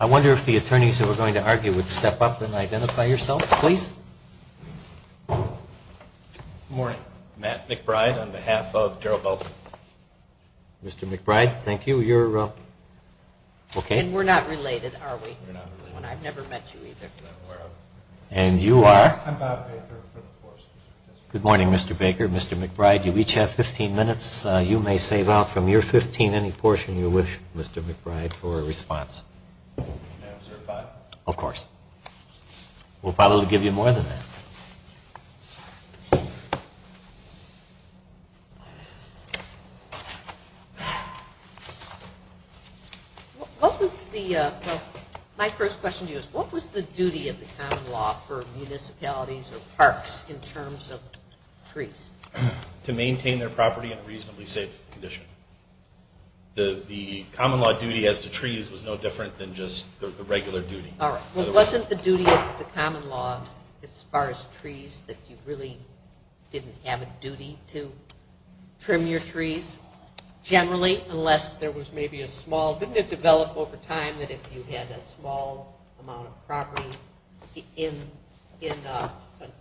I wonder if the attorneys that we're going to argue would step up and identify yourselves, please. Good morning, Matt McBride on behalf of Daryl Belton. Mr. McBride, thank you, you're up. And we're not related, are we? And you are? Good morning, Mr. Baker, Mr. McBride. You each have 15 minutes. You may save out from your 15 any portion you wish, Mr. McBride, for a response. Can I have 05? Of course. We'll probably give you more than that. My first question to you is what was the duty of the common law for municipalities or parks in terms of trees? To maintain their property in a reasonably safe condition. The common law duty as to trees was no different than just the regular duty. All right. Well, wasn't the duty of the common law as far as trees that you really didn't have a duty to trim your trees generally unless there was maybe a small, didn't it develop over time that if you had a small amount of property in an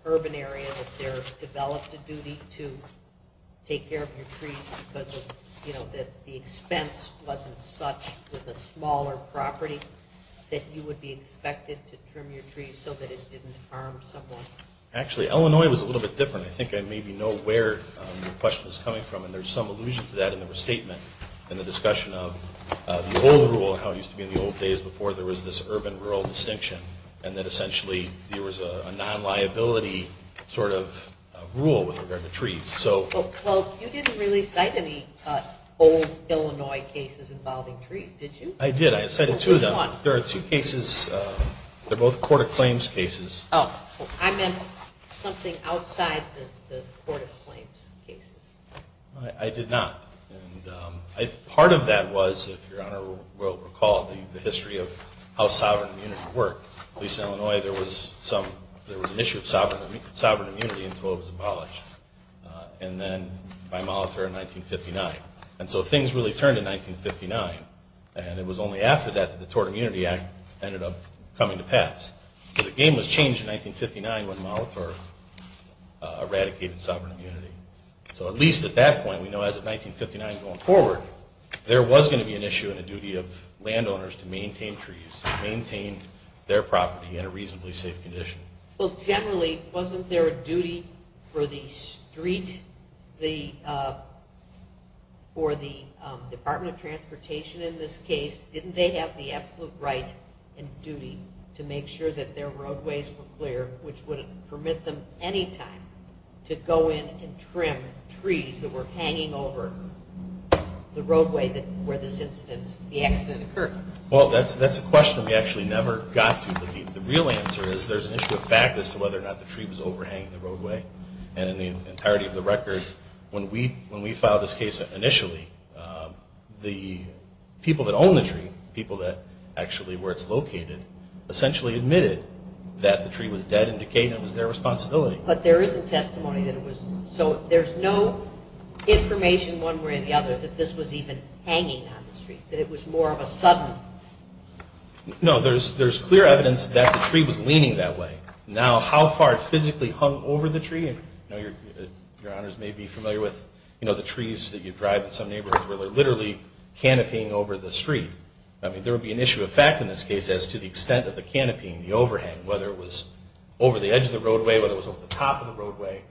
urban area that there developed a duty to take care of your trees because of, you know, that the expense wasn't such with a smaller property that you would be expected to trim your trees so that it didn't harm someone? Actually, Illinois was a little bit different. I think I maybe know where the question is coming from, and there's some allusion to that in the restatement in the discussion of the old rule and how it used to be in the old days before there was this urban-rural distinction and that essentially there was a non-liability sort of rule with regard to trees. Well, you didn't really cite any old Illinois cases involving trees, did you? I did. I cited two of them. There are two cases. They're both court-of-claims cases. Oh. I meant something outside the court-of-claims cases. I did not. And part of that was, if Your Honor will recall, the history of how sovereign immunity worked. At least in Illinois there was an issue of sovereign immunity until it was abolished and then by Molitor in 1959. And so things really turned in 1959, and it was only after that that the Tort Immunity Act ended up coming to pass. So the game was changed in 1959 when Molitor eradicated sovereign immunity. So at least at that point, we know as of 1959 going forward, there was going to be an issue and a duty of landowners to maintain trees and maintain their property in a reasonably safe condition. Well, generally, wasn't there a duty for the street, for the Department of Transportation in this case, didn't they have the absolute right and duty to make sure that their roadways were clear, which would permit them any time to go in and trim trees that were hanging over the roadway where this incident, the accident occurred? Well, that's a question we actually never got to. But the real answer is there's an fact as to whether or not the tree was overhanging the roadway. And in the entirety of the record, when we filed this case initially, the people that own the tree, the people that actually where it's located, essentially admitted that the tree was dead and decayed and it was their responsibility. But there isn't testimony that it was. So there's no information one way or the other that this was even hanging on the street, that it was more of a sudden? No, there's clear evidence that the tree was leaning that way. Now, how far it physically hung over the tree, your honors may be familiar with the trees that you drive in some neighborhoods where they're literally canopying over the street. I mean, there would be an issue of fact in this case as to the extent of the canopying, the overhang, whether it was over the edge of the roadway, whether it was over the top of the roadway.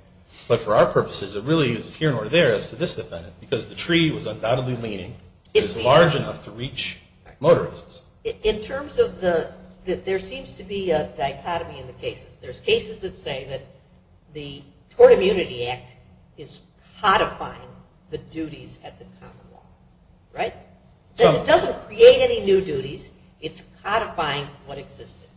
But for our purposes, it really is here nor there as to this defendant, because the tree was undoubtedly leaning. It is large enough to reach motorists. In terms of the, there seems to be a dichotomy in the cases. There's cases that say that the Tort Immunity Act is codifying the duties at the common law, right? It doesn't create any new duties. It's codifying what existed.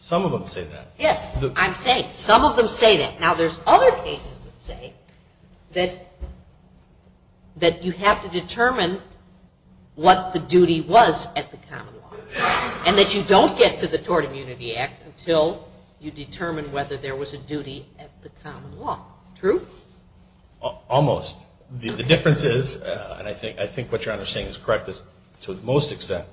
Some of them say that. Yes, I'm saying some of them say that. Now, there's other cases that say that you have to determine what the duty was at the common law and that you don't get to the Tort Immunity Act until you determine whether there was a duty at the common law. True? Almost. The difference is, and I think what your honor is saying is correct to the most extent,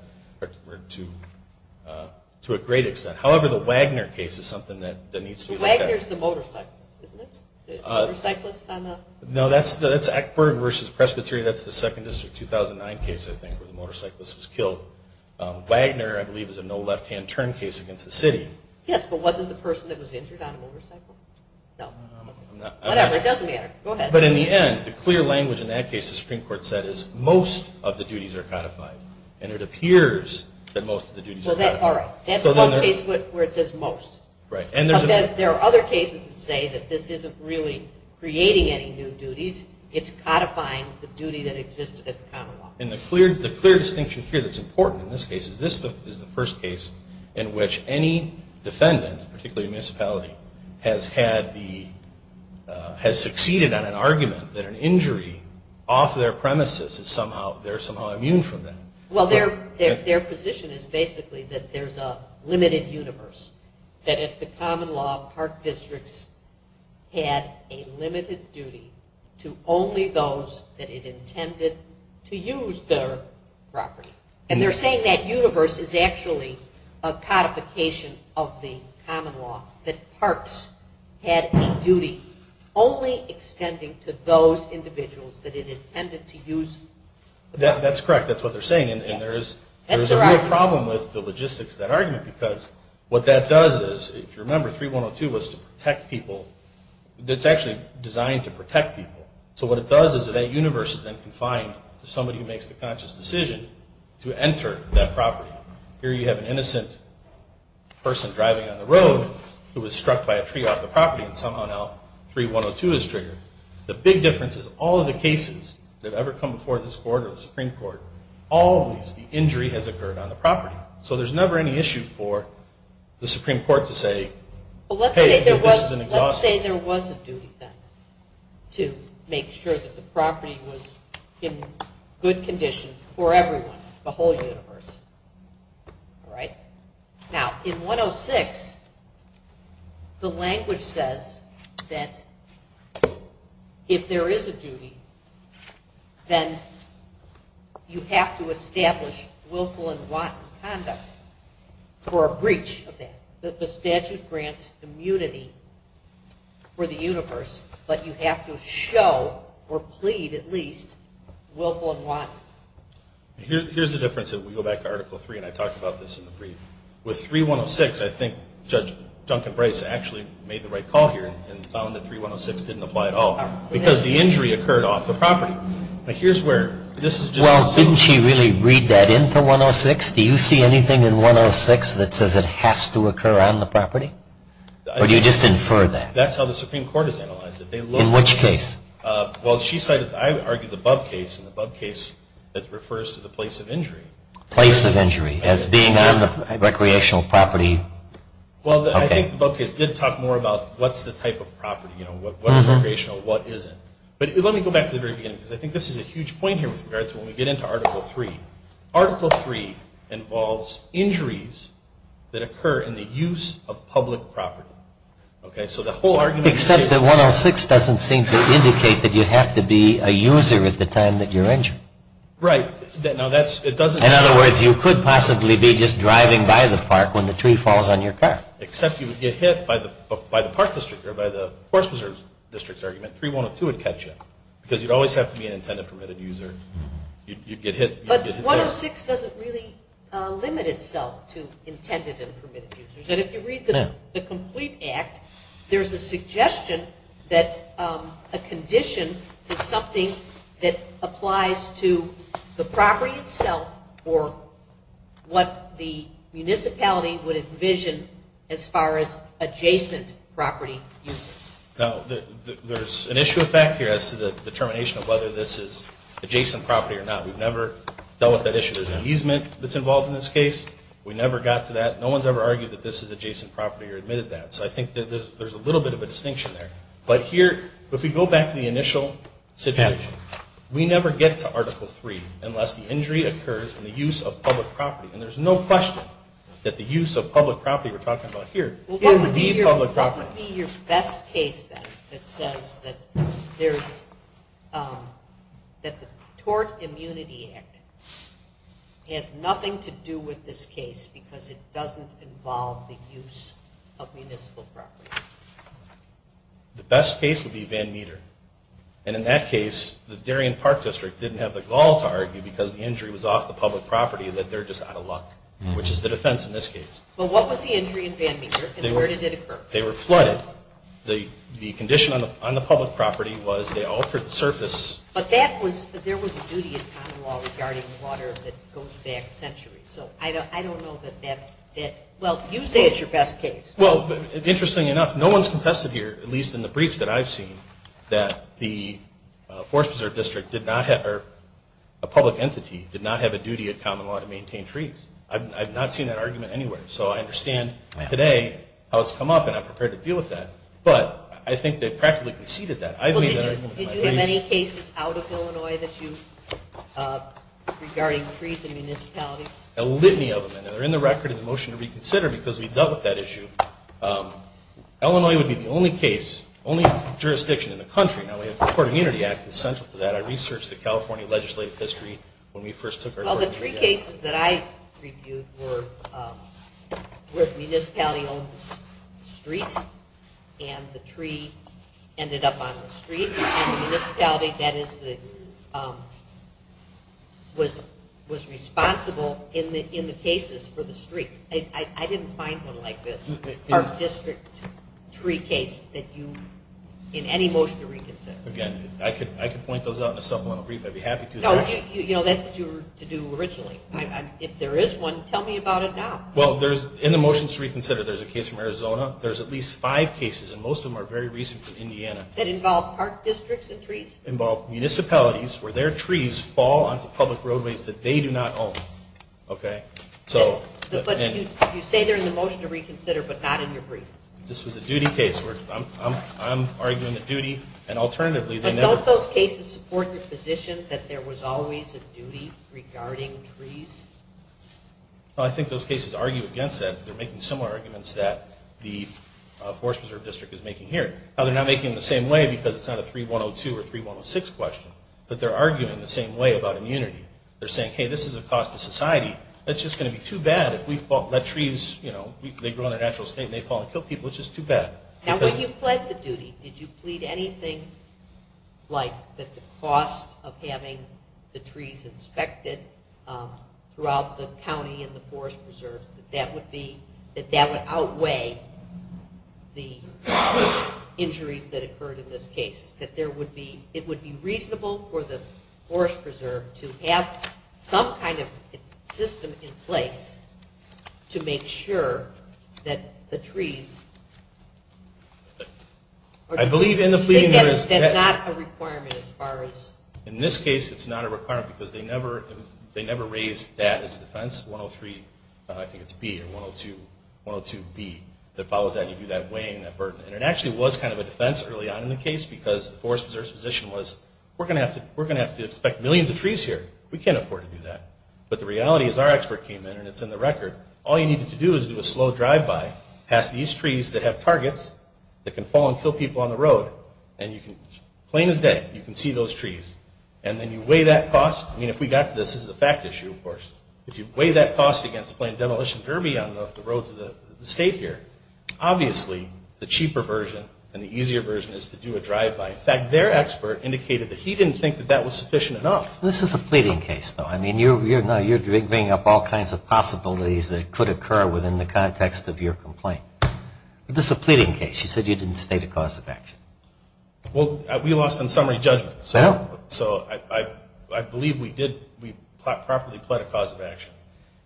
to a great extent. However, the Wagner case is something that needs to be looked at. Wagner is the motorcyclist, isn't it? The motorcyclist on the... No, that's Eckberg versus Presbyterian. That's the 2nd District 2009 case, I think, where the motorcyclist was killed. Wagner, I believe, is a no left-hand turn case against the city. Yes, but wasn't the person that was injured on a motorcycle? No. Whatever. It doesn't matter. Go ahead. But in the end, the clear language in that case, the Supreme Court said is most of the duties are codified. And it appears that most of the duties are codified. All right. That's one case where it says most. Right. There are other cases that say that this isn't really creating any new duties. It's codifying the duty that existed at the common law. And the clear distinction here that's important in this case is this is the first case in which any defendant, particularly a municipality, has had the... has succeeded on an argument that an injury off their premises is somehow... they're somehow immune from that. Well, their position is basically that there's a limited universe, that at the common law, park districts had a limited duty to only those that it intended to use their property. And they're saying that universe is actually a codification of the common law, that parks had a duty only extending to those individuals that it intended to use... That's correct. That's what they're saying. And there is a real problem with the logistics of that argument because what that does is, if you remember, 3102 was to protect people. It's actually designed to protect people. So what it does is that that universe is then confined to somebody who makes the conscious decision to enter that property. Here you have an innocent person driving on the road who was struck by a tree off the property and somehow now 3102 is triggered. The big difference is all of the cases that have ever come before this court or the Supreme Court, always the injury has occurred on the property. So there's never any issue for the Supreme Court to say, hey, this is an exhaustion. Well, let's say there was a duty then to make sure that the property was in good condition for everyone, the whole universe. All right? Now, in 106, the language says that if there is a duty, then you have to establish willful and wanton conduct for a breach of that. The statute grants immunity for the universe, but you have to show or plead at least willful and wanton. Here's the difference if we go back to Article 3, and I talked about this in the brief. With 3106, I think Judge Duncan Bryce actually made the right call here and found that 3106 didn't apply at all because the injury occurred off the property. Now, here's where this is just so. Well, didn't she really read that into 106? Do you see anything in 106 that says it has to occur on the property? Or do you just infer that? That's how the Supreme Court has analyzed it. In which case? Well, she cited, I argue, the Bub case and the Bub case that refers to the place of injury. Place of injury as being on the recreational property. Well, I think the Bub case did talk more about what's the type of property, what's recreational, what isn't. But let me go back to the very beginning, because I think this is a huge point here with regards to when we get into Article 3. Article 3 involves injuries that occur in the use of public property. Except that 106 doesn't seem to indicate that you have to be a user at the time that you're injured. Right. In other words, you could possibly be just driving by the park when the tree falls on your car. Except you would get hit by the park district or by the Forest Preserve District's argument, 3102 would catch you. Because you'd always have to be an intended permitted user. You'd get hit. But 106 doesn't really limit itself to intended and permitted users. And if you read the complete Act, there's a suggestion that a condition is applies to the property itself or what the municipality would envision as far as adjacent property users. Now, there's an issue of fact here as to the determination of whether this is adjacent property or not. We've never dealt with that issue. There's an easement that's involved in this case. We never got to that. No one's ever argued that this is adjacent property or admitted that. So I think that there's a little bit of a distinction there. But here, if we go back to the initial situation, we never get to Article 3 unless the injury occurs in the use of public property. And there's no question that the use of public property we're talking about here is the public property. What would be your best case then that says that the Tort Immunity Act has nothing to do with this case because it doesn't involve the use of municipal property? The best case would be Van Meter. And in that case, the Darien Park District didn't have the gall to argue because the injury was off the public property that they're just out of luck, which is the defense in this case. But what was the injury in Van Meter and where did it occur? They were flooded. The condition on the public property was they altered the surface. But that was, there was a duty in common law regarding water that goes back centuries. So I don't know that, well, you say it's your best case. Well, interesting enough, no one's confessed here, at least in the briefs that I've seen, that the Forest Preserve District did not have, or a public entity did not have a duty of common law to maintain trees. I've not seen that argument anywhere. So I understand today how it's come up and I'm prepared to deal with that. But I think they've practically conceded that. Did you have any cases out of Illinois that you, regarding trees and the motion to reconsider because we've dealt with that issue, Illinois would be the only case, only jurisdiction in the country. Now we have the Court of Unity Act that's central to that. I researched the California legislative history when we first took our court of unity. All the tree cases that I reviewed were with municipality-owned streets and the tree ended up on the streets and the municipality that is the, was responsible in the cases for the street. I didn't find one like this, park district tree case that you, in any motion to reconsider. Again, I could point those out in a supplemental brief, I'd be happy to. No, you know, that's what you were to do originally. If there is one, tell me about it now. Well, there's, in the motion to reconsider, there's a case from Arizona. There's at least five cases and most of them are very recent from Indiana. That involve park districts and trees? Involve municipalities where their trees fall onto public roadways that they do not own. Okay. So, but you say they're in the motion to reconsider, but not in your brief. This was a duty case where I'm, I'm, I'm arguing the duty and alternatively, but don't those cases support your position that there was always a duty regarding trees? Well, I think those cases argue against that. They're making similar arguments that the Forest Preserve District is making here. Now they're not making the same way because it's not a 3102 or 3106 question, but they're arguing the same way about immunity. They're saying, hey, this is a cost to society. That's just going to be too bad if we fall, let trees, you know, they grow in their natural state and they fall and kill people. It's just too bad. Now when you pled the duty, did you plead anything like that the cost of having the trees inspected throughout the county and the Forest Preserves, that that would be, that that would outweigh the injuries that occurred in this case, that there would be, it would be reasonable for the Forest Preserve to have some kind of system in place to make sure that the trees... I believe in the pleading there is... That's not a requirement as far as... In this case, it's not a requirement because they never, they never raised that as a defense, 103, I think it's B or 102B that follows that and you do that weighing that burden. And it actually was kind of a defense early on in the case because the Forest Preserve's position was, we're going to have to, we're going to have to inspect millions of trees here. We can't afford to do that. But the reality is our expert came in and it's in the record. All you needed to do is do a slow drive-by past these trees that have targets that can fall and kill people on the road and you can, plain as day, you can see those trees. And then you weigh that cost. I mean, if we got to this as a fact issue, of course, if you weigh that cost against playing demolition derby on the roads of the state here, obviously the cheaper version and the easier version is to do a drive-by. In fact, their expert indicated that he didn't think that that was sufficient enough. This is a pleading case though. I mean, you're, you know, you're bringing up all kinds of possibilities that could occur within the context of your complaint. But this is a pleading case. You said you didn't state a cause of action. Well, we lost on summary judgment. So I believe we did, we properly pled a cause of action.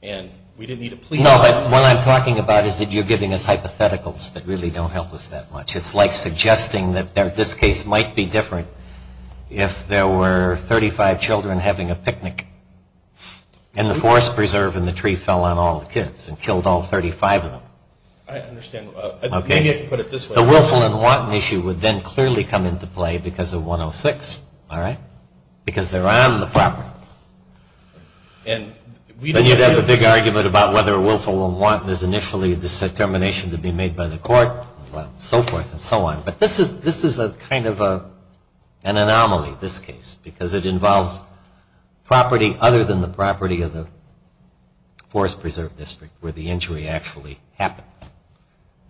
And we didn't need to plead. No, but what I'm talking about is that you're giving us hypotheticals that really don't help us that much. It's like suggesting that this case might be different if there were 35 children having a picnic and the forest preserve and the tree fell on all the kids and killed all 35 of them. I understand. Maybe I can put it this way. The Willful and Wanton issue would then clearly come into play because of 106, all right? Because they're on the property. And then you'd have a big argument about whether Willful and Wanton is initially the determination to be made by the court. Well, so forth and so on. But this is, this is a kind of an anomaly, this case, because it involves property other than the property of the forest preserve district where the injury actually happened.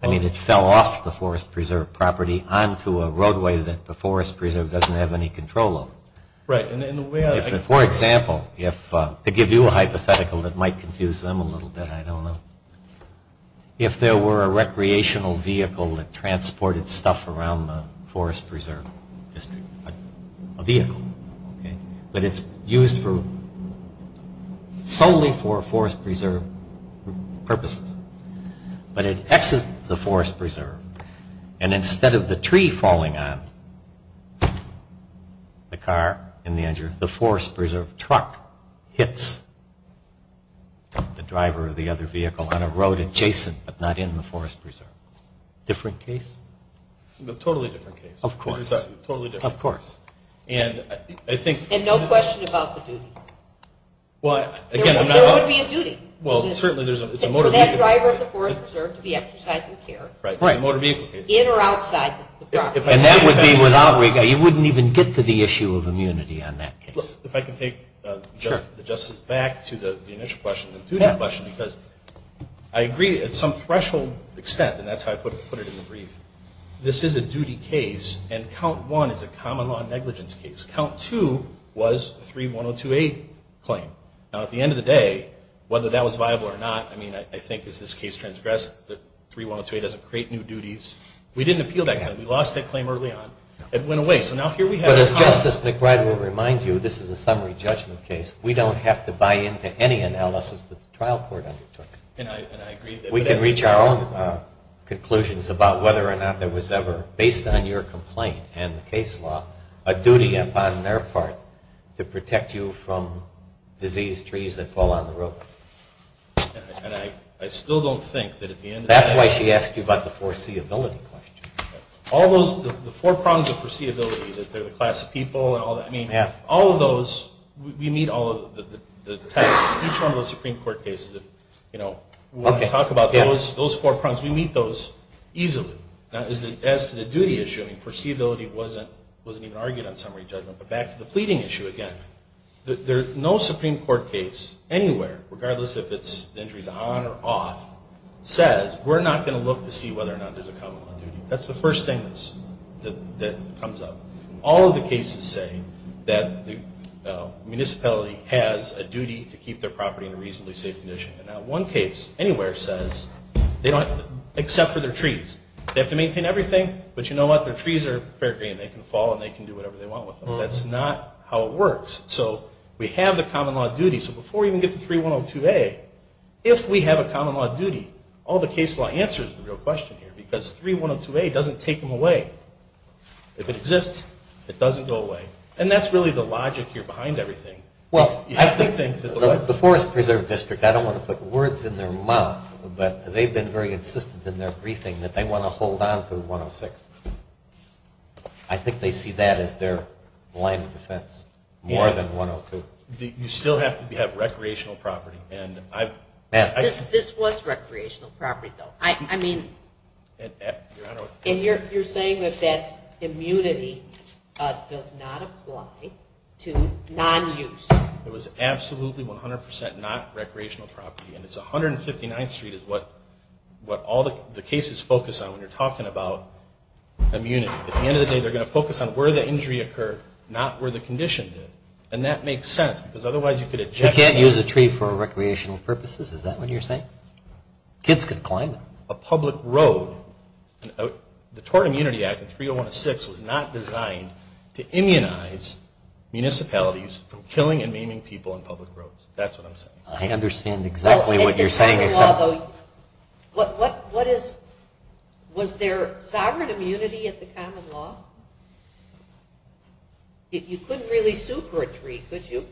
I mean, it fell off the forest preserve property onto a roadway that the forest preserve doesn't have any control over. Right. For example, if, to give you a hypothetical that might confuse them a little bit, I don't know. If there were a recreational vehicle that transported stuff around the forest preserve district, a vehicle, okay? But it's used for, solely for forest preserve purposes. But it exits the forest preserve and instead of the tree falling on the car and the injury, the forest preserve truck hits the driver of the other vehicle on a road adjacent but not in the forest preserve. Different case? Totally different case. Of course. Totally different. For that driver of the forest preserve to be exercising care. Right. In or outside the property. And that would be without, you wouldn't even get to the issue of immunity on that case. If I can take the Justice back to the initial question, the duty question, because I agree at some threshold extent, and that's how I put it in the brief, this is a duty case and count one is a common law negligence case. Count two was 31028 claim. Now at the end of the day, whether that was viable or not, I think as this case transgressed, 31028 doesn't create new duties. We didn't appeal that claim. We lost that claim early on. It went away. But as Justice McBride will remind you, this is a summary judgment case. We don't have to buy into any analysis that the trial court undertook. And I agree. We can reach our own conclusions about whether or not there was ever, based on your complaint and the case law, a duty upon their part to protect you from disease trees that fall on the road. And I still don't think that at the end of the day... That's why she asked you about the foreseeability question. All those, the four prongs of foreseeability, that they're the class of people and all that, I mean, all of those, we meet all of the tests, each one of those Supreme Court cases that, you know, when I talk about those four prongs, we meet those easily. Now as to the duty issue, I mean, foreseeability wasn't even argued on summary judgment. But back to the pleading issue again. No Supreme Court case anywhere, regardless if the injury is on or off, says we're not going to look to see whether or not there's a common law duty. That's the first thing that comes up. All of the cases say that the municipality has a duty to keep their property in a reasonably safe condition. And not one case anywhere says, except for their trees. They have to maintain everything, but you know what? Their trees are fair green. They can fall and they can do whatever they So we have the common law duty. So before we even get to 3102A, if we have a common law duty, all the case law answers the real question here. Because 3102A doesn't take them away. If it exists, it doesn't go away. And that's really the logic here behind everything. Well, the Forest Preserve District, I don't want to put words in their mouth, but they've been very insistent in their briefing that they want to hold on through 106. I think they see that as their line of defense, more than 102. You still have to have recreational property. This was recreational property, though. I mean, and you're saying that that immunity does not apply to non-use. It was absolutely 100% not recreational property. And it's 159th Street is what all the cases focus on when you're talking about immunity. At the end of the day, they're going to focus on where the injury occurred, not where the condition did. And that makes sense, because otherwise you could object. You can't use a tree for recreational purposes. Is that what you're saying? Kids can climb it. A public road. The Tort Immunity Act in 301 of 6 was not designed to immunize municipalities from killing and maiming people in public roads. That's what I'm saying. I understand exactly what you're saying. Common law, though. Was there sovereign immunity at the common law? You couldn't really sue for a tree, could you?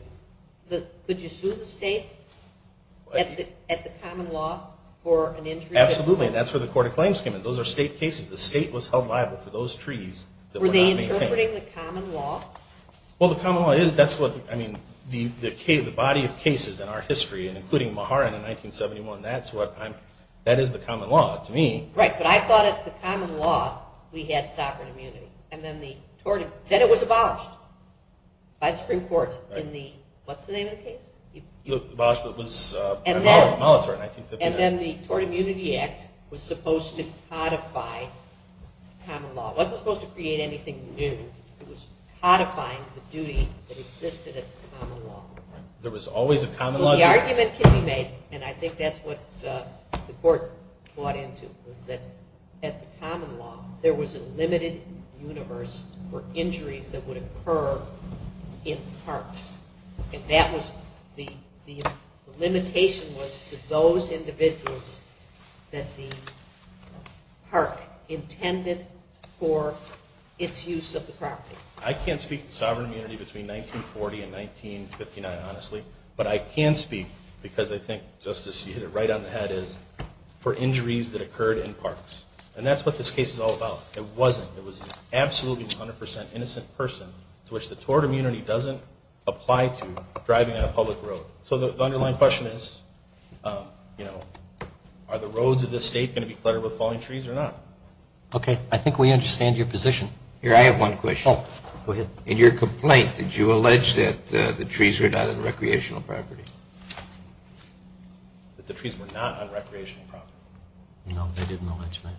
Could you sue the state at the common law for an injury? Absolutely. And that's where the Court of Claims came in. Those are state cases. The state was held liable for those treaties that were not maintained. Were they interpreting the common law? Well, the common law is. That's what, I mean, the body of cases in our history, including Maharan in 1971, that is the common law to me. Right, but I thought at the common law we had sovereign immunity. And then it was abolished by the Supreme Court in the, what's the name of the case? It was abolished by the military in 1959. And then the Tort Immunity Act was supposed to codify common law. It wasn't supposed to create anything new. It was codifying the duty that existed at the common law. There was always a common law. The argument can be made, and I think that's what the court bought into, was that at the common law there was a limited universe for injuries that would occur in parks. And that was, the limitation was to those individuals that the park intended for its use of the property. I can't speak to sovereign immunity between 1940 and 1959, honestly. But I can speak, because I think, Justice, you hit it right on the head, is for injuries that occurred in parks. And that's what this case is all about. It wasn't. It was an absolutely 100% innocent person to which the tort immunity doesn't apply to driving on a public road. So the underlying question is, you know, are the roads of this state going to be cluttered with falling trees or not? Okay, I think we understand your position. Here, I have one question. Oh, go ahead. In your complaint, did you allege that the trees were not on recreational property? That the trees were not on recreational property? No, I didn't allege that.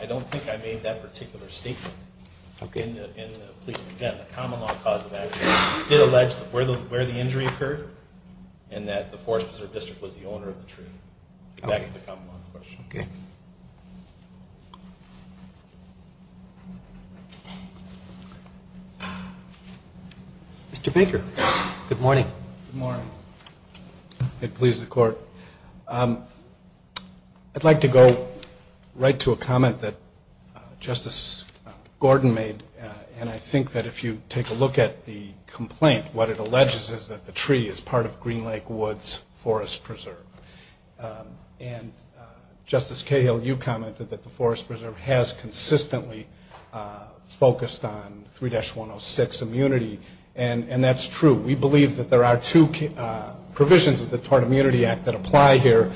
I don't think I made that particular statement. Okay. In the plea. Again, the common law cause of action did allege where the injury occurred, and that the Forest Preserve District was the owner of the tree. That's the common law question. Okay. Mr. Baker, good morning. Good morning. It pleases the court. I'd like to go right to a comment that Justice Gordon made. And I think that if you take a look at the complaint, what it alleges is that the tree is part of Green Lake Woods Forest Preserve. And Justice Cahill, you commented that the Forest Preserve has consistently focused on 3-106 immunity. And that's true. We believe that there are two provisions of the Tort Immunity Act that apply here.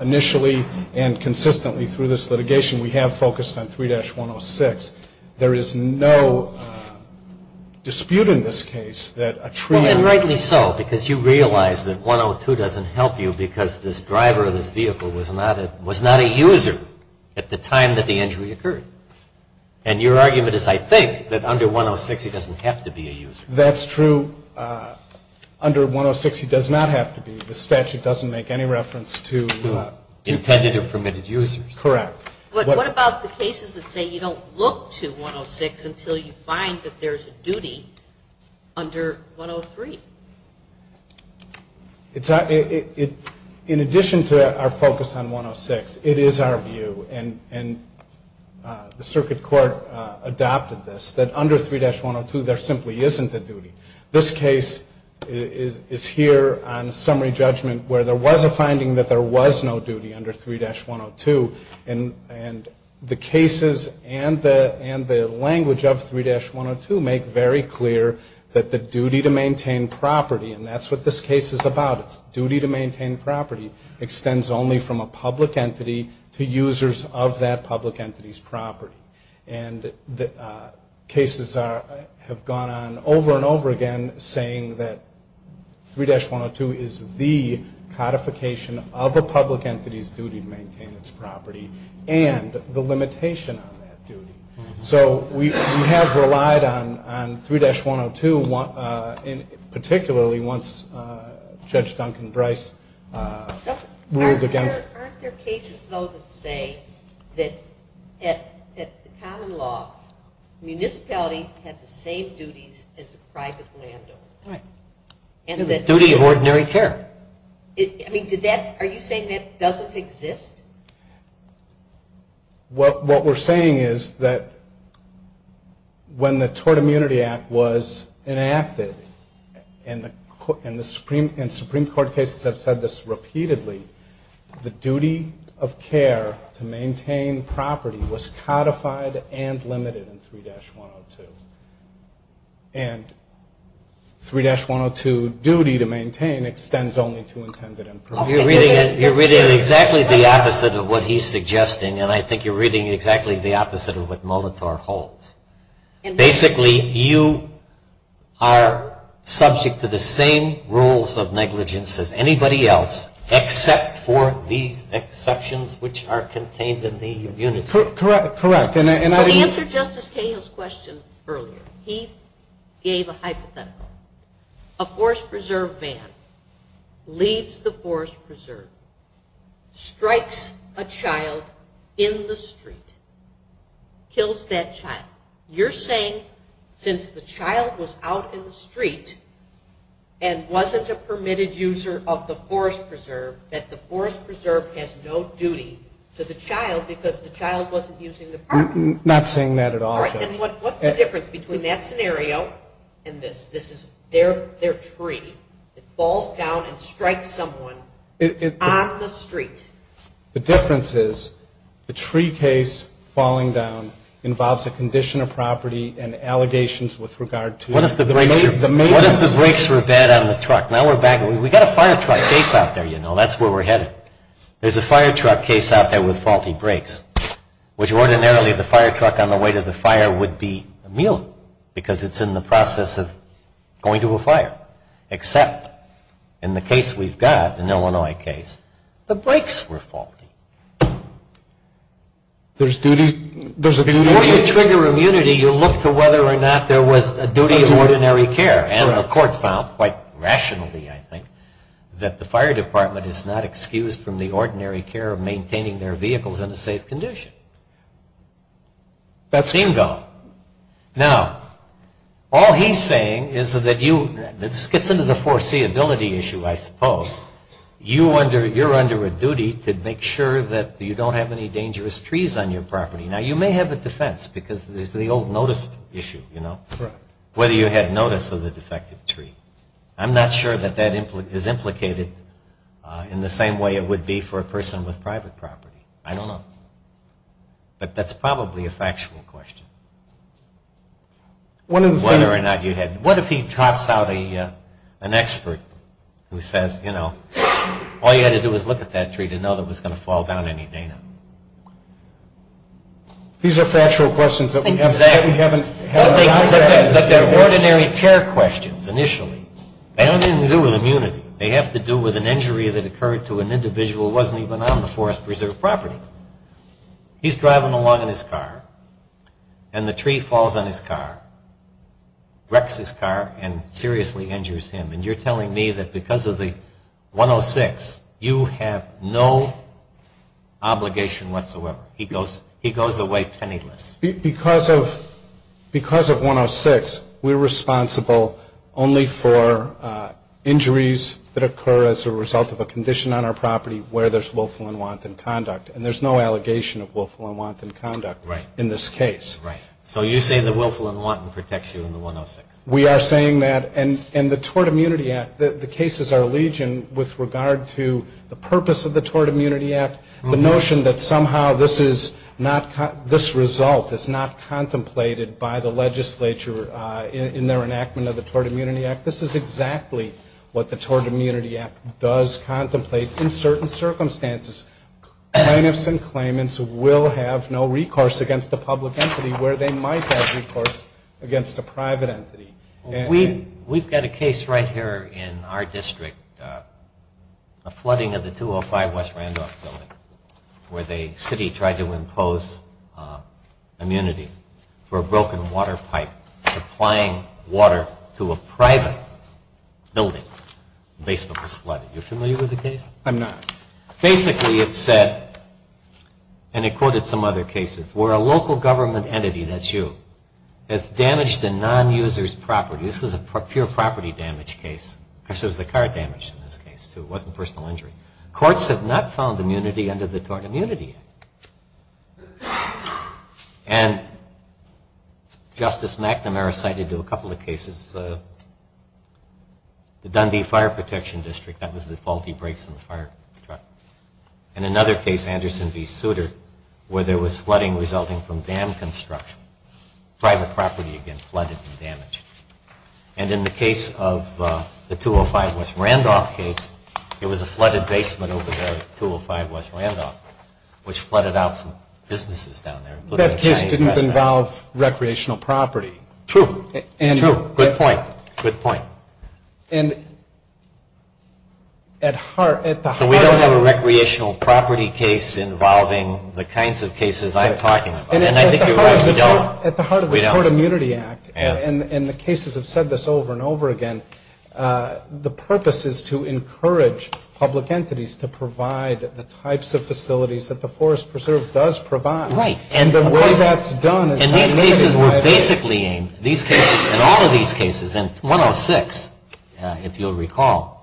Initially, and consistently through this litigation, we have focused on 3-106. There is no dispute in this case that a tree... And rightly so, because you realize that 102 doesn't help you because this driver of this vehicle was not a user at the time that the injury occurred. And your argument is, I think, that under 106, he doesn't have to be a user. That's true. Under 106, he does not have to be. The statute doesn't make any reference to... Intended or permitted users. Correct. What about the cases that say you don't look to 106 until you find that there's a duty under 103? In addition to our focus on 106, it is our view. And the Circuit Court adopted this. That under 3-102, there simply isn't a duty. This case is here on summary judgment where there was a finding that there was no duty under 3-102. And the cases and the language of 3-102 make very clear that the duty to maintain property. And that's what this case is about. It's duty to maintain property extends only from a public entity to users of that public entity's property. And the cases have gone on over and over again, saying that 3-102 is the codification of a public entity's duty to maintain its property. And the limitation on that duty. So we have relied on 3-102, particularly once Judge Duncan Brice ruled against... Aren't there cases, though, that say that at common law, municipality had the same duties as a private landowner? Right. And that... Duty of ordinary care. I mean, are you saying that doesn't exist? Well, what we're saying is that when the Tort Immunity Act was enacted, and the Supreme Court cases have said this repeatedly, the duty of care to maintain property was codified and limited in 3-102. And 3-102 duty to maintain extends only to intended and permitted... You're reading exactly the opposite of what he's suggesting, and I think you're reading exactly the opposite of what Molitor holds. Basically, you are subject to the same rules of negligence as anybody else, except for these exceptions, which are contained in the immunity. Correct. Correct. To answer Justice Cahill's question earlier, he gave a hypothetical. A Forest Preserve van leaves the Forest Preserve, strikes a child in the street, kills that child. You're saying, since the child was out in the street and wasn't a permitted user of the Forest Preserve, that the Forest Preserve has no duty to the child because the child wasn't using the parking lot? Not saying that at all, Judge. And what's the difference between that scenario and this? They're free. It falls down and strikes someone on the street. The difference is, the tree case falling down involves a condition of property and allegations with regard to... What if the brakes were bad on the truck? Now we're back... We got a fire truck case out there, you know, that's where we're headed. There's a fire truck case out there with faulty brakes, which ordinarily the fire truck on the way to the fire would be a mule, because it's in the process of going to a fire. Except in the case we've got, an Illinois case, the brakes were faulty. There's duties... Before you trigger immunity, you look to whether or not there was a duty of ordinary care. And the court found, quite rationally I think, that the fire department is not excused from the ordinary care of maintaining their vehicles in a safe condition. Bingo. Now, all he's saying is that you... This gets into the foreseeability issue, I suppose. You're under a duty to make sure that you don't have any dangerous trees on your property. Now you may have a defense, because there's the old notice issue, you know? Correct. Whether you had notice of the defective tree. I'm not sure that that is implicated in the same way it would be for a person with private property. I don't know. But that's probably a factual question. One of the things... Whether or not you had... What if he drops out an expert who says, you know, all you had to do was look at that tree to know that it was going to fall down any day now? These are factual questions that we haven't... Exactly. But they're ordinary care questions, initially. They don't even do with immunity. They have to do with an injury that occurred to an individual who wasn't even on the forest preserve property. He's driving along in his car. And the tree falls on his car. Wrecks his car and seriously injures him. And you're telling me that because of the 106, you have no obligation whatsoever. He goes away penniless. Because of 106, we're responsible only for injuries that occur as a result of a condition on our property where there's willful and wanton conduct. And there's no allegation of willful and wanton conduct. Right. In this case. Right. So you're saying the willful and wanton protects you in the 106? We are saying that. And the Tort Immunity Act, the cases are legion with regard to the purpose of the Tort Immunity Act, the notion that somehow this result is not contemplated by the legislature in their enactment of the Tort Immunity Act. This is exactly what the Tort Immunity Act does contemplate in certain circumstances. Plaintiffs and claimants will have no recourse against a public entity where they might have recourse against a private entity. We've got a case right here in our district, a flooding of the 205 West Randolph building where the city tried to impose immunity for a broken water pipe supplying water to a private building. The basement was flooded. You're familiar with the case? I'm not. Basically, it said, and it quoted some other cases, where a local government entity, that's you, has damaged a non-user's property. This was a pure property damage case. Of course, it was the car damaged in this case, too. It wasn't personal injury. Courts have not found immunity under the Tort Immunity Act. And Justice McNamara cited to a couple of cases the Dundee Fire Protection District. That was the faulty brakes in the fire truck. In another case, Anderson v. Souter, where there was flooding resulting from dam construction. Private property, again, flooded and damaged. And in the case of the 205 West Randolph case, it was a flooded basement over there at 205 West Randolph, which flooded out some businesses down there. That case didn't involve recreational property. True, true. Good point, good point. And at the heart of it. So we don't have a recreational property case involving the kinds of cases I'm talking about. And I think you're right, we don't. At the heart of the Tort Immunity Act, and the cases have said this over and over again, the purpose is to encourage public entities to provide the types of facilities that the Forest Preserve does provide. Right. And the way that's done is by letting the private. And these cases were basically aimed, in all of these cases, and 106, if you'll recall,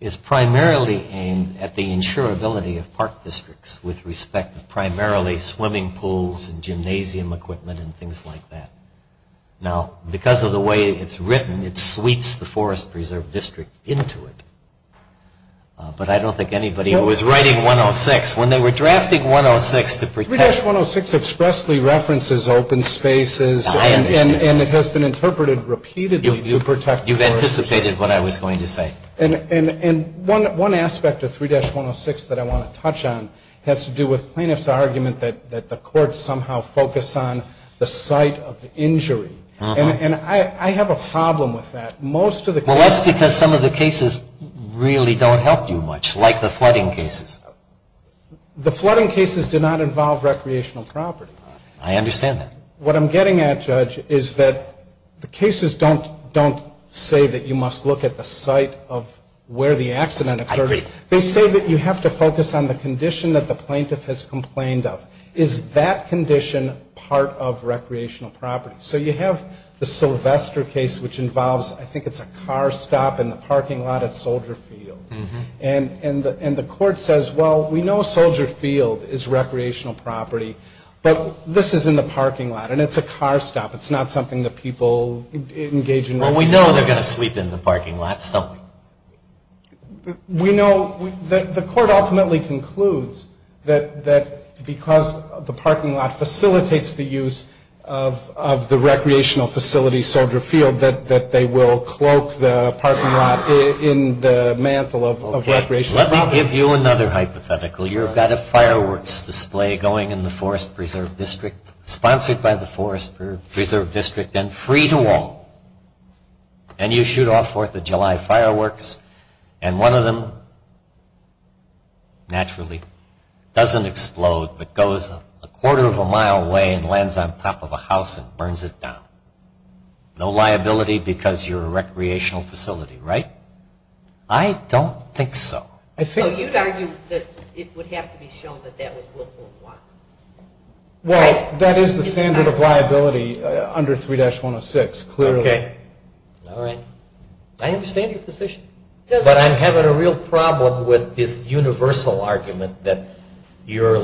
is primarily aimed at the insurability of park districts with respect to primarily swimming pools and gymnasium equipment and things like that. Now, because of the way it's written, it sweeps the Forest Preserve District into it. But I don't think anybody was writing 106 when they were drafting 106 to protect. 3-106 expressly references open spaces. I understand. And it has been interpreted repeatedly to protect. You've anticipated what I was going to say. And one aspect of 3-106 that I want to touch on has to do with plaintiff's argument that the courts somehow focus on the site of the injury. And I have a problem with that. Most of the cases. Well, that's because some of the cases really don't help you much, like the flooding cases. The flooding cases do not involve recreational property. I understand that. What I'm getting at, Judge, is that the cases don't say that you must look at the site of where the accident occurred. They say that you have to focus on the condition that the plaintiff has complained of. Is that condition part of recreational property? So you have the Sylvester case, which involves, I think it's a car stop in the parking lot at Soldier Field. And the court says, well, we know Soldier Field is recreational property. But this is in the parking lot. And it's a car stop. It's not something that people engage in. Well, we know they're going to sweep in the parking lots, don't we? We know that the court ultimately concludes that because the parking lot facilitates the use of the recreational facility, Soldier Field, that they will cloak the parking lot in the mantle of recreational property. Let me give you another hypothetical. You've got a fireworks display going in the Forest Preserve District, sponsored by the Forest Preserve District, and free to all. And you shoot off 4th of July fireworks. And one of them, naturally, doesn't explode, but goes a quarter of a mile away and lands on top of a house and burns it down. No liability because you're a recreational facility, right? I don't think so. So you'd argue that it would have to be shown that that was willful or not? Well, that is the standard of liability under 3-106, clearly. All right. I understand your position. But I'm having a real problem with this universal argument that your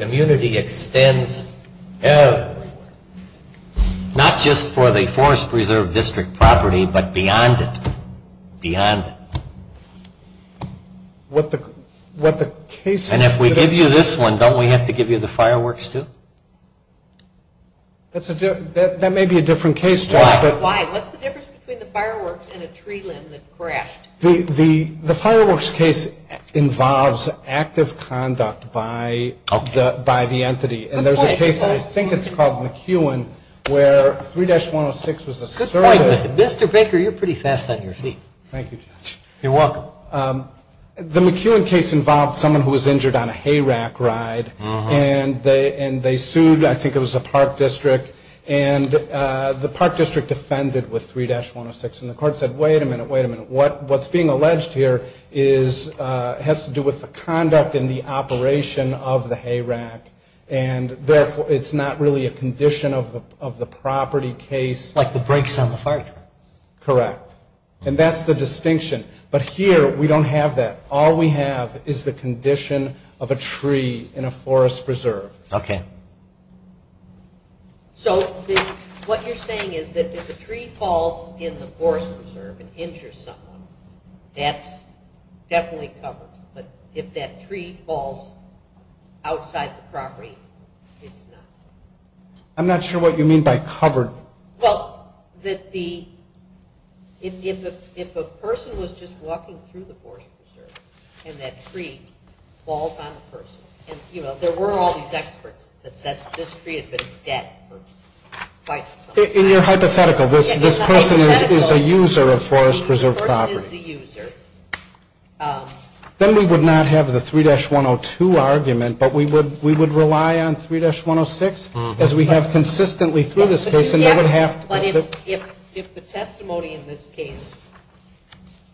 immunity extends everywhere, not just for the Forest Preserve District property, but beyond it, beyond it. What the case is. And if we give you this one, don't we have to give you the fireworks, too? That may be a different case. Why? What's the difference between the fireworks and a tree limb that crashed? The fireworks case involves active conduct by the entity. And there's a case, I think it's called McEwen, where 3-106 was a service. Good point, Mr. Baker. You're pretty fast on your feet. Thank you, Judge. You're welcome. The McEwen case involved someone who was injured on a hayrack ride. And they sued, I think it was a park district. And the park district defended with 3-106. And the court said, wait a minute, wait a minute. What's being alleged here has to do with the conduct and the operation of the hayrack. And therefore, it's not really a condition of the property case. Like the brakes on the fire truck. Correct. And that's the distinction. But here, we don't have that. All we have is the condition of a tree in a forest preserve. OK. So what you're saying is that if a tree falls in the forest preserve and injures someone, that's definitely covered. But if that tree falls outside the property, it's not. I'm not sure what you mean by covered. Well, if a person was just walking through the forest preserve, and that tree falls on the person. And there were all these experts that said this tree had been dead for quite some time. And you're hypothetical. This person is a user of forest preserve property. The person is the user. Then we would not have the 3-102 argument. But we would rely on 3-106, as we have consistently through this case. And they would have to. But if the testimony in this case,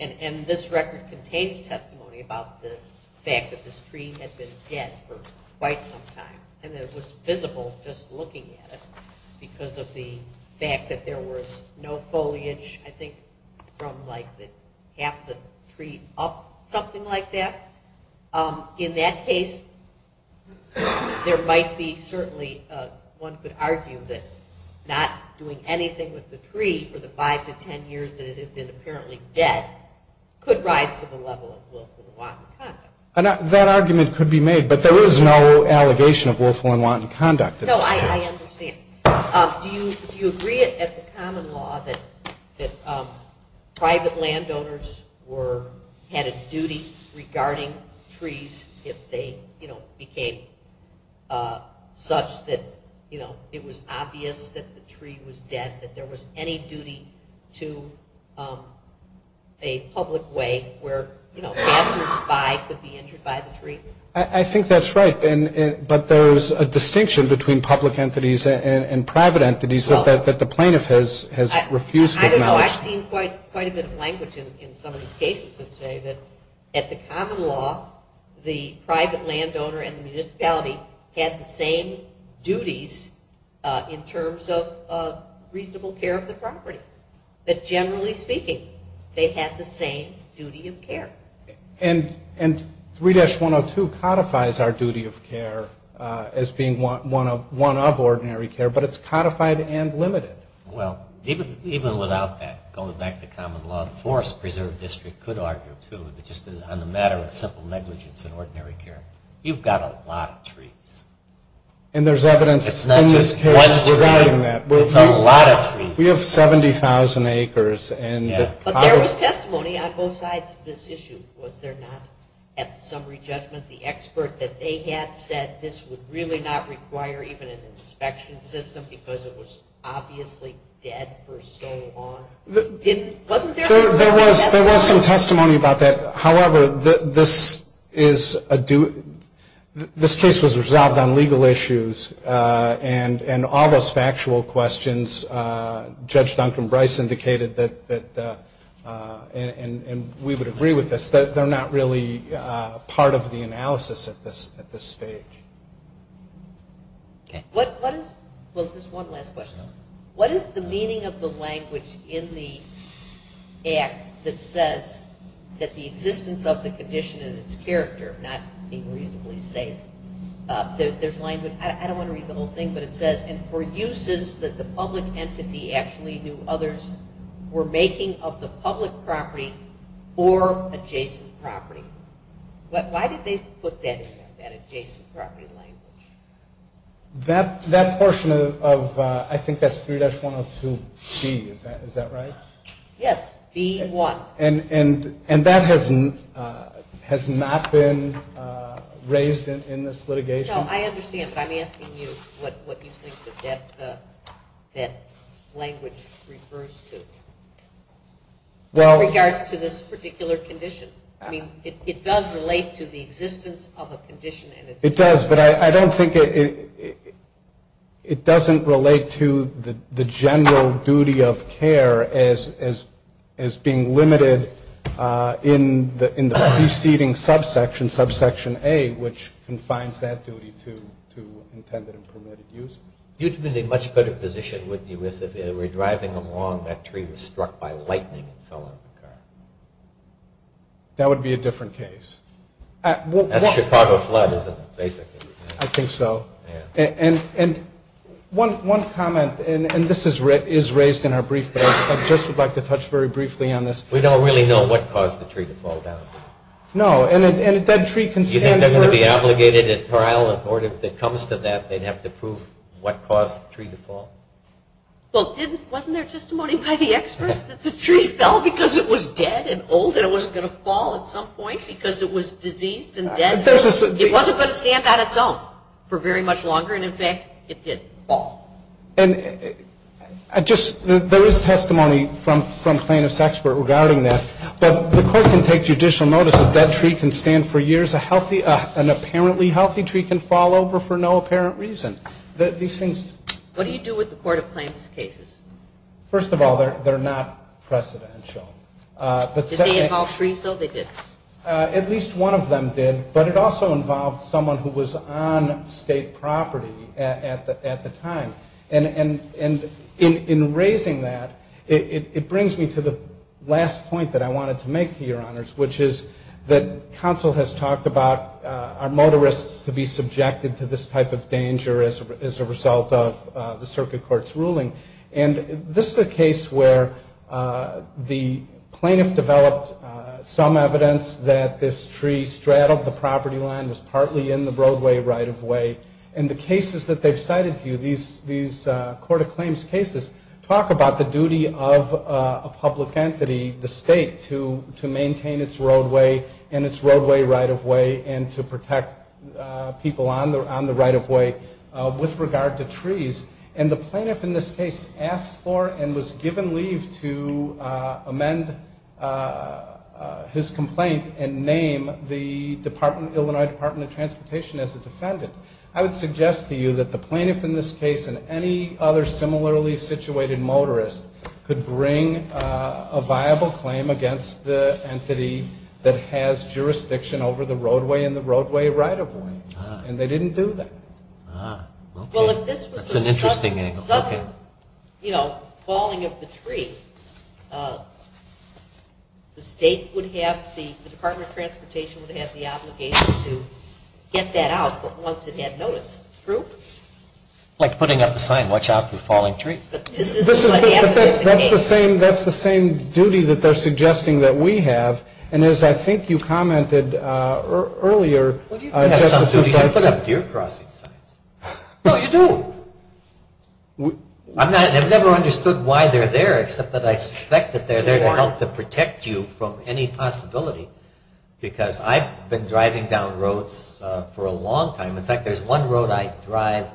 and this record contains testimony about the fact that this tree had been dead for quite some time, and it was visible just looking at it because of the fact that there was no foliage, I think, from half the tree up, something like that. In that case, there might be certainly, one could argue that not doing anything with the tree for the 5-10 years that it had been apparently dead could rise to the level of willful and wanton conduct. That argument could be made. But there is no allegation of willful and wanton conduct. No, I understand. Do you agree at the common law that private landowners had a duty regarding trees if they became such that it was obvious that the tree was dead, that there was any duty to a public way where passersby could be injured by the tree? I think that's right. But there's a distinction between public entities and private entities that the plaintiff has refused to acknowledge. I don't know. I've seen quite a bit of language in some of these cases that say that at the common law, the private landowner and the municipality had the same duties in terms of reasonable care of the property. But generally speaking, they had the same duty of care. And 3-102 codifies our duty of care as being one of ordinary care, but it's codified and limited. Well, even without that, going back to common law, the Forest Preserve District could argue, too, on the matter of simple negligence and ordinary care, you've got a lot of trees. And there's evidence in this case regarding that. It's a lot of trees. We have 70,000 acres. But there was testimony on both sides of this issue, was there not? At the summary judgment, the expert that they had said this would really not require even an inspection system because it was obviously dead for so long. Wasn't there some testimony? There was some testimony about that. However, this case was resolved on legal issues and all those factual questions, Judge Duncan Bryce indicated that, and we would agree with this, that they're not really part of the analysis at this stage. Well, just one last question. What is the meaning of the language in the act that says that the existence of the condition and its character, not being reasonably safe, there's language, I don't want to read the whole thing, but it says, and for uses that the public entity actually knew others were making of the public property or adjacent property. Why did they put that in there, that adjacent property language? That portion of, I think that's 3-102B, is that right? Yes, B1. And that has not been raised in this litigation? No, I understand, but I'm asking you what you think that that language refers to in regards to this particular condition. I mean, it does relate to the existence of a condition. It does, but I don't think it doesn't relate to the general duty of care as being limited in the preceding subsection, subsection A, which confines that duty to intended and permitted use. You'd be in a much better position, wouldn't you, if they were driving along, that tree was struck by lightning and fell on the car. That would be a different case. That's Chicago flood, isn't it, basically? I think so. And one comment, and this is raised in our brief, but I just would like to touch very briefly on this. We don't really know what caused the tree to fall down. No, and if that tree can stand for- Do you think they're going to be obligated at trial or if it comes to that, they'd have to prove what caused the tree to fall? Well, wasn't there testimony by the experts that the tree fell because it was dead and old and it wasn't going to fall at some point because it was diseased and dead? There's a- It wasn't going to stand on its own for very much longer, and in fact, it did fall. And I just, there is testimony from plaintiff's expert regarding that, but the court can take judicial notice that that tree can stand for years. A healthy, an apparently healthy tree can fall over for no apparent reason. These things- What do you do with the court of plaintiff's cases? First of all, they're not precedential, but- Did they involve trees, though? They did. At least one of them did, but it also involved someone who was on state property at the time. And in raising that, it brings me to the last point that I wanted to make to your honors, which is that counsel has talked about our motorists to be subjected to this type of danger as a result of the circuit court's ruling. And this is a case where the plaintiff developed some evidence that this tree straddled the property line, was partly in the roadway right-of-way. And the cases that they've cited to you, these court of claims cases, talk about the duty of a public entity, the state, to maintain its roadway and its roadway right-of-way, and to protect people on the right-of-way with regard to trees. And the plaintiff in this case asked for and was given leave to amend his complaint and name the Illinois Department of Transportation as a defendant. I would suggest to you that the plaintiff in this case and any other similarly-situated motorist could bring a viable claim against the entity that has jurisdiction over the roadway and the roadway right-of-way. And they didn't do that. Ah, well, that's an interesting angle. Because of, you know, falling of the tree, the state would have, the Department of Transportation would have the obligation to get that out once it had noticed. True? Like putting up a sign, watch out for falling trees. That's the same duty that they're suggesting that we have. And as I think you commented earlier... Well, you do have some duty. You don't put up deer crossing signs. No, you do. I've never understood why they're there, except that I suspect that they're there to help to protect you from any possibility. Because I've been driving down roads for a long time. In fact, there's one road I drive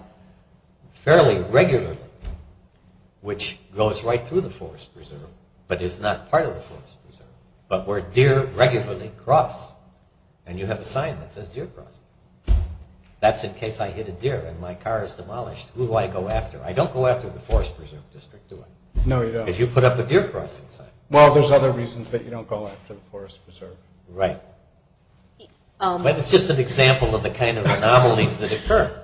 fairly regularly, which goes right through the Forest Preserve, but is not part of the Forest Preserve, but where deer regularly cross. And you have a sign that says deer crossing. That's in case I hit a deer and my car is demolished. I don't go after the Forest Preserve District, do I? No, you don't. Because you put up a deer crossing sign. Well, there's other reasons that you don't go after the Forest Preserve. Right. But it's just an example of the kind of anomalies that occur.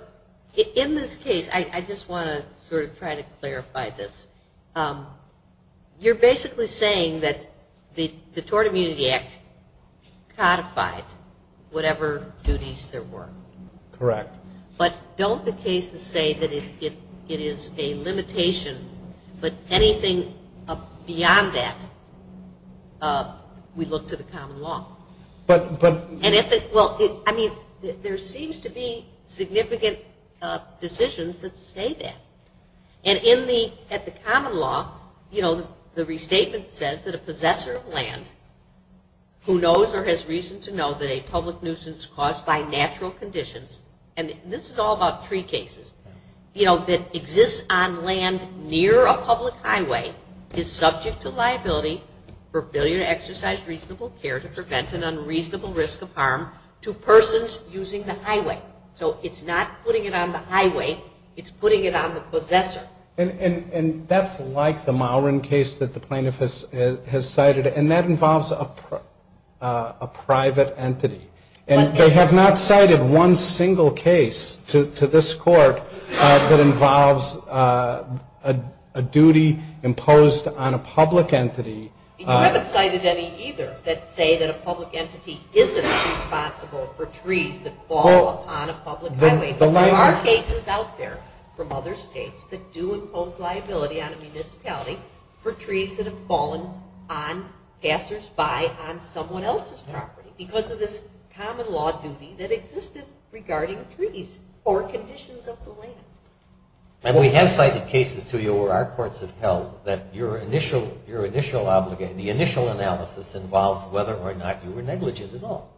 In this case, I just want to sort of try to clarify this. You're basically saying that the Tort Immunity Act codified whatever duties there were. Correct. But don't the cases say that it is a limitation, but anything beyond that, we look to the common law. But... Well, I mean, there seems to be significant decisions that say that. And at the common law, the restatement says that a possessor of land who knows or has reason to know that a public nuisance caused by natural conditions and this is all about tree cases, you know, that exists on land near a public highway is subject to liability for failure to exercise reasonable care to prevent an unreasonable risk of harm to persons using the highway. So it's not putting it on the highway. It's putting it on the possessor. And that's like the Mowrin case that the plaintiff has cited. And that involves a private entity. And they have not cited one single case to this court that involves a duty imposed on a public entity. You haven't cited any either that say that a public entity isn't responsible for trees that fall upon a public highway. But there are cases out there from other states that do impose liability on a municipality for trees that have fallen on passersby on someone else's property because of this common law duty that existed regarding trees or conditions of the land. And we have cited cases to you where our courts have held that your initial obligation, the initial analysis involves whether or not you were negligent at all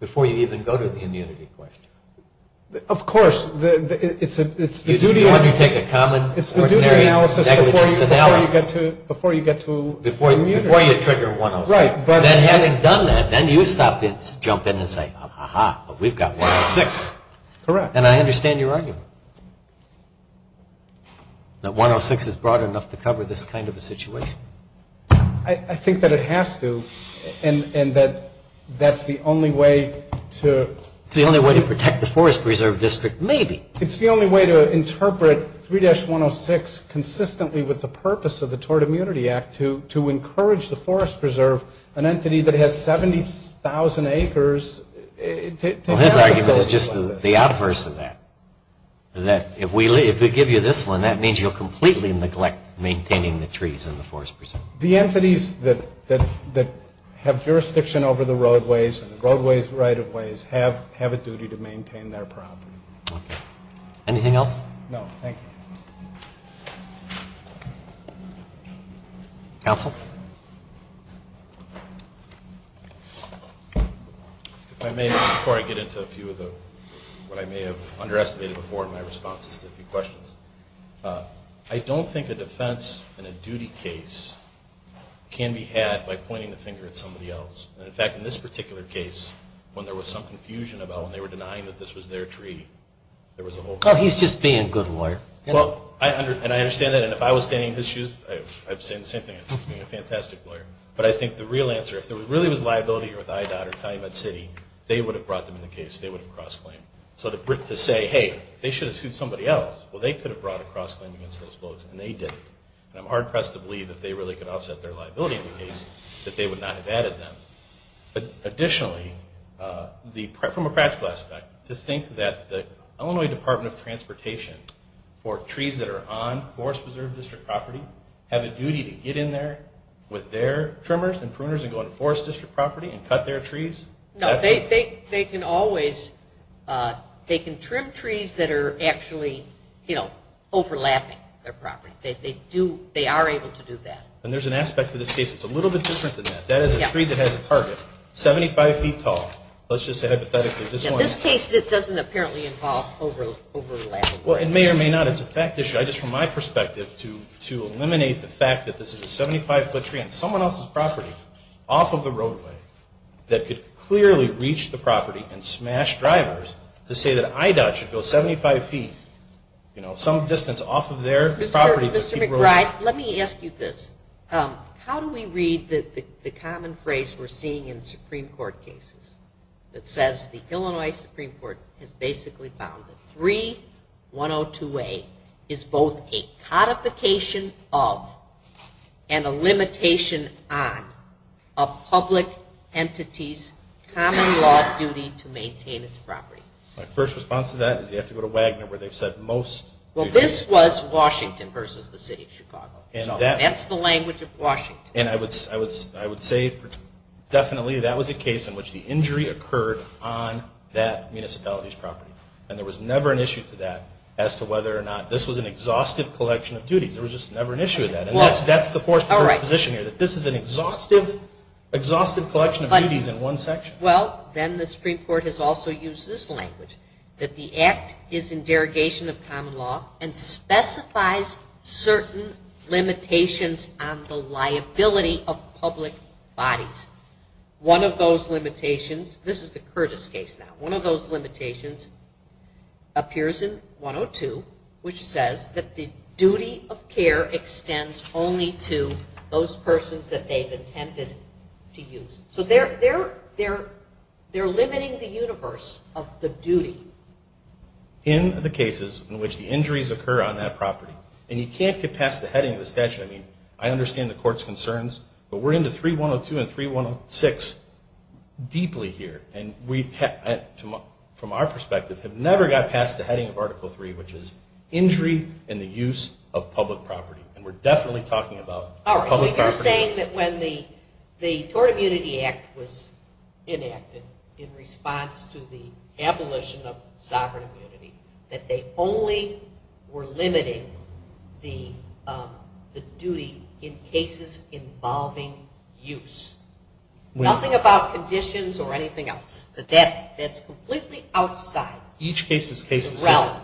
before you even go to the immunity question. Of course, it's the duty... When you take a common ordinary negligence analysis... Before you get to... Before you trigger 107. Right. Then having done that, then you stop and jump in and say, aha, we've got 106. Correct. And I understand your argument. That 106 is broad enough to cover this kind of a situation. I think that it has to. And that that's the only way to... It's the only way to protect the Forest Preserve District, maybe. It's the only way to interpret 3-106 consistently with the purpose of the Tort Immunity Act to encourage the Forest Preserve, an entity that has 70,000 acres... Well, his argument is just the adverse of that. That if we give you this one, that means you'll completely neglect maintaining the trees in the Forest Preserve. The entities that have jurisdiction over the roadways and the roadways, right-of-ways, have a duty to maintain their property. Anything else? No, thank you. Counsel? If I may, before I get into a few of what I may have underestimated before in my responses to a few questions. I don't think a defense in a duty case can be had by pointing the finger at somebody else. And in fact, in this particular case, when there was some confusion about when they were denying that this was their tree, there was a whole... Oh, he's just being a good lawyer. Well, and I understand that. If I was standing in his shoes, I'd say the same thing. He's being a fantastic lawyer. But I think the real answer, if there really was liability with IDOT or County Med City, they would have brought them in the case. They would have cross-claimed. So to say, hey, they should have sued somebody else. Well, they could have brought a cross-claim against those folks, and they didn't. And I'm hard-pressed to believe if they really could offset their liability in the case, that they would not have added them. But additionally, from a practical aspect, to think that the Illinois Department of Transportation, for trees that are on Forest Preserve District property, have a duty to get in there with their trimmers and pruners and go into Forest District property and cut their trees. No, they can always... They can trim trees that are actually overlapping their property. They are able to do that. And there's an aspect to this case that's a little bit different than that. That is a tree that has a target, 75 feet tall. Let's just say, hypothetically, this one... It doesn't apparently involve overlapping. Well, it may or may not. It's a fact issue. I just, from my perspective, to eliminate the fact that this is a 75-foot tree on someone else's property, off of the roadway, that could clearly reach the property and smash drivers to say that I-DOT should go 75 feet, you know, some distance off of their property... Mr. McBride, let me ask you this. How do we read the common phrase we're seeing in Supreme Court cases that says the Illinois Supreme Court has basically found that 3102A is both a codification of and a limitation on a public entity's common law duty to maintain its property? My first response to that is you have to go to Wagner, where they've said most... Well, this was Washington versus the City of Chicago. And that's the language of Washington. And I would say definitely that was a case in which the injury occurred on that municipality's property. And there was never an issue to that as to whether or not this was an exhaustive collection of duties. There was just never an issue with that. And that's the fourth position here, that this is an exhaustive collection of duties in one section. Well, then the Supreme Court has also used this language, that the Act is in derogation of common law and specifies certain limitations on the liability of public bodies. One of those limitations, this is the Curtis case now, one of those limitations appears in 102, which says that the duty of care extends only to those persons that they've intended to use. So they're limiting the universe of the duty. In the cases in which the injuries occur on that property. And you can't get past the heading of the statute. I mean, I understand the court's concerns, but we're into 3102 and 3106 deeply here. And we, from our perspective, have never got past the heading of Article III, which is injury and the use of public property. And we're definitely talking about public property. You're saying that when the Tort Immunity Act was enacted in response to the abolition of sovereign immunity, that they only were limiting the duty in cases involving use. Nothing about conditions or anything else. That's completely outside the realm.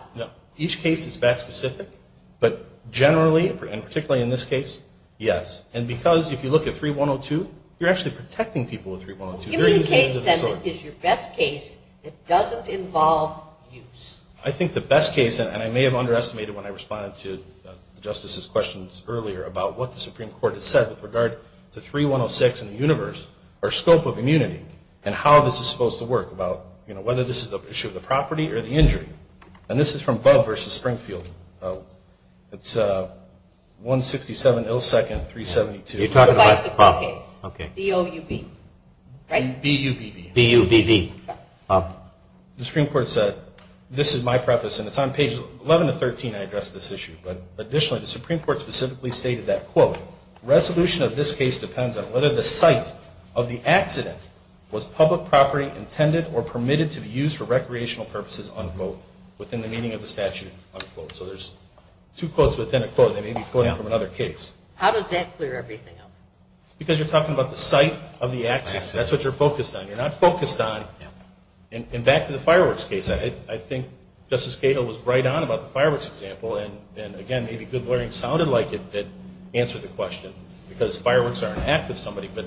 Each case is fact specific. But generally, and particularly in this case, yes. And because if you look at 3102, you're actually protecting people with 3102. Give me a case then that is your best case that doesn't involve use. I think the best case, and I may have underestimated when I responded to the Justice's questions earlier about what the Supreme Court has said with regard to 3106 and the universe, our scope of immunity, and how this is supposed to work about whether this is an issue of the property or the injury. And this is from Bove v. Springfield. It's 167 ill second 372. You're talking about the bicycle case, B-O-U-B. B-U-B-B. B-U-B-B. The Supreme Court said, this is my preface, and it's on pages 11 to 13 I addressed this issue. But additionally, the Supreme Court specifically stated that, quote, resolution of this case depends on whether the site of the accident was public property intended or permitted to be used for recreational purposes, unquote, within the meaning of the statute, unquote. So there's two quotes within a quote. They may be quoting from another case. How does that clear everything up? Because you're talking about the site of the accident. That's what you're focused on. You're not focused on, and back to the fireworks case, I think Justice Cato was right on about the fireworks example. And again, maybe good learning sounded like it answered the question, because fireworks are an act of somebody. But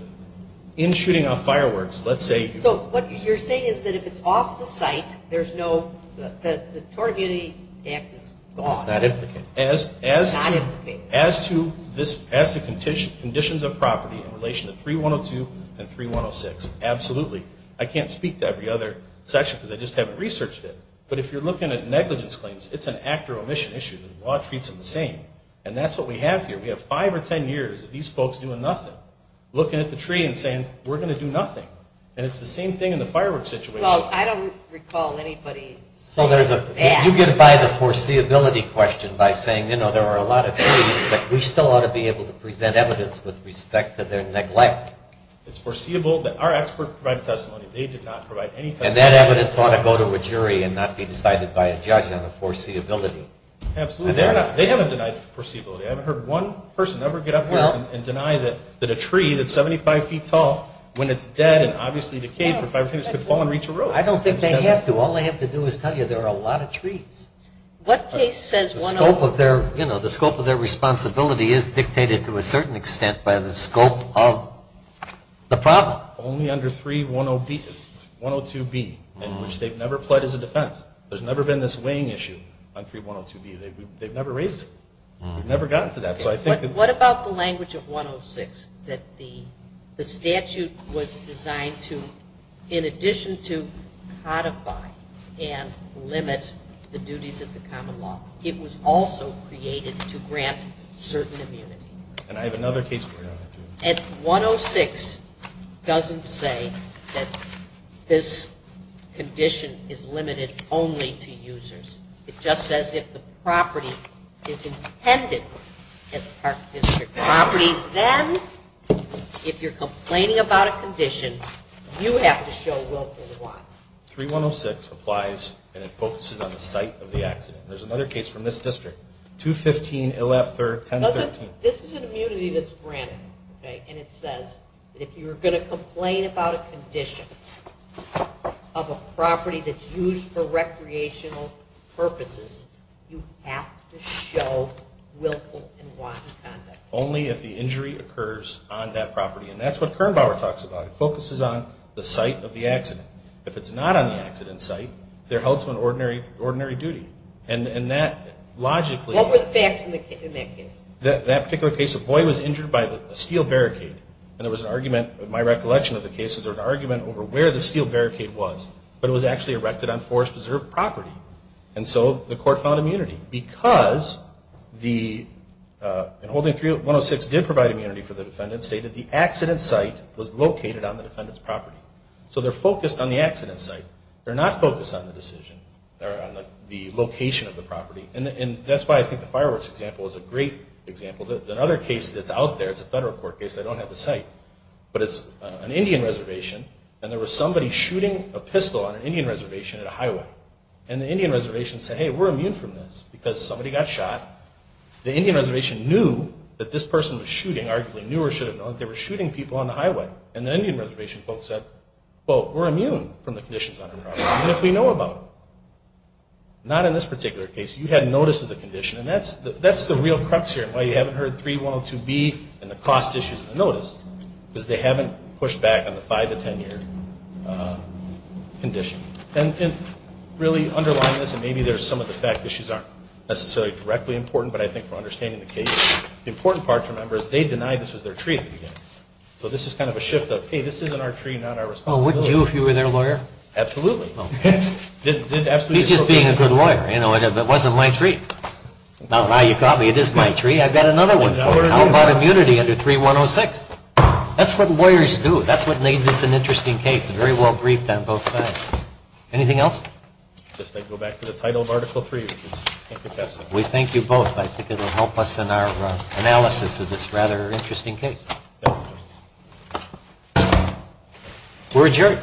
in shooting off fireworks, let's say. So what you're saying is that if it's off the site, there's no, the Tort Immunity Act is gone. It's not implicated. As to conditions of property in relation to 3102 and 3106, absolutely. I can't speak to every other section, because I just haven't researched it. But if you're looking at negligence claims, it's an act or omission issue. The law treats them the same. And that's what we have here. We have five or 10 years of these folks doing nothing, looking at the tree and saying, we're going to do nothing. And it's the same thing in the fireworks situation. I don't recall anybody saying that. You get by the foreseeability question by saying, you know, there are a lot of trees, but we still ought to be able to present evidence with respect to their neglect. It's foreseeable. Our experts provide testimony. They did not provide any testimony. And that evidence ought to go to a jury and not be decided by a judge on the foreseeability. Absolutely. They haven't denied foreseeability. I haven't heard one person ever get up here and deny that a tree that's 75 feet tall, when it's dead and obviously decayed for five or 10 years, could fall and reach a road. I don't think they have to. All they have to do is tell you there are a lot of trees. What case says 106? The scope of their responsibility is dictated to a certain extent by the scope of the problem. Only under 3102B, in which they've never pled as a defense. There's never been this weighing issue on 3102B. They've never raised it. They've never gotten to that. What about the language of 106, that the statute was designed in addition to codify and limit the duties of the common law, it was also created to grant certain immunity? And I have another case for you, Your Honor. 106 doesn't say that this condition is limited only to users. It just says if the property is intended as Park District property, then if you're complaining about a condition, you have to show willful and wanton conduct. 3106 applies, and it focuses on the site of the accident. There's another case from this district, 215-113. This is an immunity that's granted. And it says that if you're going to complain about a condition of a property that's used for recreational purposes, you have to show willful and wanton conduct. Only if the injury occurs on that property. And that's what Kernbauer talks about. It focuses on the site of the accident. If it's not on the accident site, they're held to an ordinary duty. And that, logically, What were the facts in that case? That particular case, a boy was injured by a steel barricade. And there was an argument, in my recollection of the case, there was an argument over where the steel barricade was. But it was actually erected on forest preserved property. And so the court found immunity. Because the, in holding 3106 did provide immunity for the defendant, stated the accident site was located on the defendant's property. So they're focused on the accident site. They're not focused on the decision, or on the location of the property. And that's why I think the fireworks example is a great example. Another case that's out there, it's a federal court case, they don't have the site. But it's an Indian reservation. And there was somebody shooting a pistol on an Indian reservation at a highway. And the Indian reservation said, hey, we're immune from this. Because somebody got shot. The Indian reservation knew that this person was shooting, arguably knew or should have known that they were shooting people on the highway. And the Indian reservation folks said, well, we're immune from the conditions on our property. Even if we know about it. Not in this particular case. You had notice of the condition. And that's the real crux here. And why you haven't heard 3102B, and the cost issues of the notice. Because they haven't pushed back on the five to 10 year condition. And really, underlying this, and maybe there's some of the fact issues aren't necessarily directly important. But I think for understanding the case, the important part to remember is they denied this was their tree at the beginning. So this is kind of a shift of, hey, this isn't our tree, not our responsibility. Well, wouldn't you if you were their lawyer? Absolutely. He's just being a good lawyer. You know, it wasn't my tree. Now you caught me, it is my tree. I've got another one. How about immunity under 3106? That's what lawyers do. That's what made this an interesting case. Very well briefed on both sides. Anything else? Just to go back to the title of article three. We thank you both. I think it'll help us in our analysis of this rather interesting case. We're adjourned.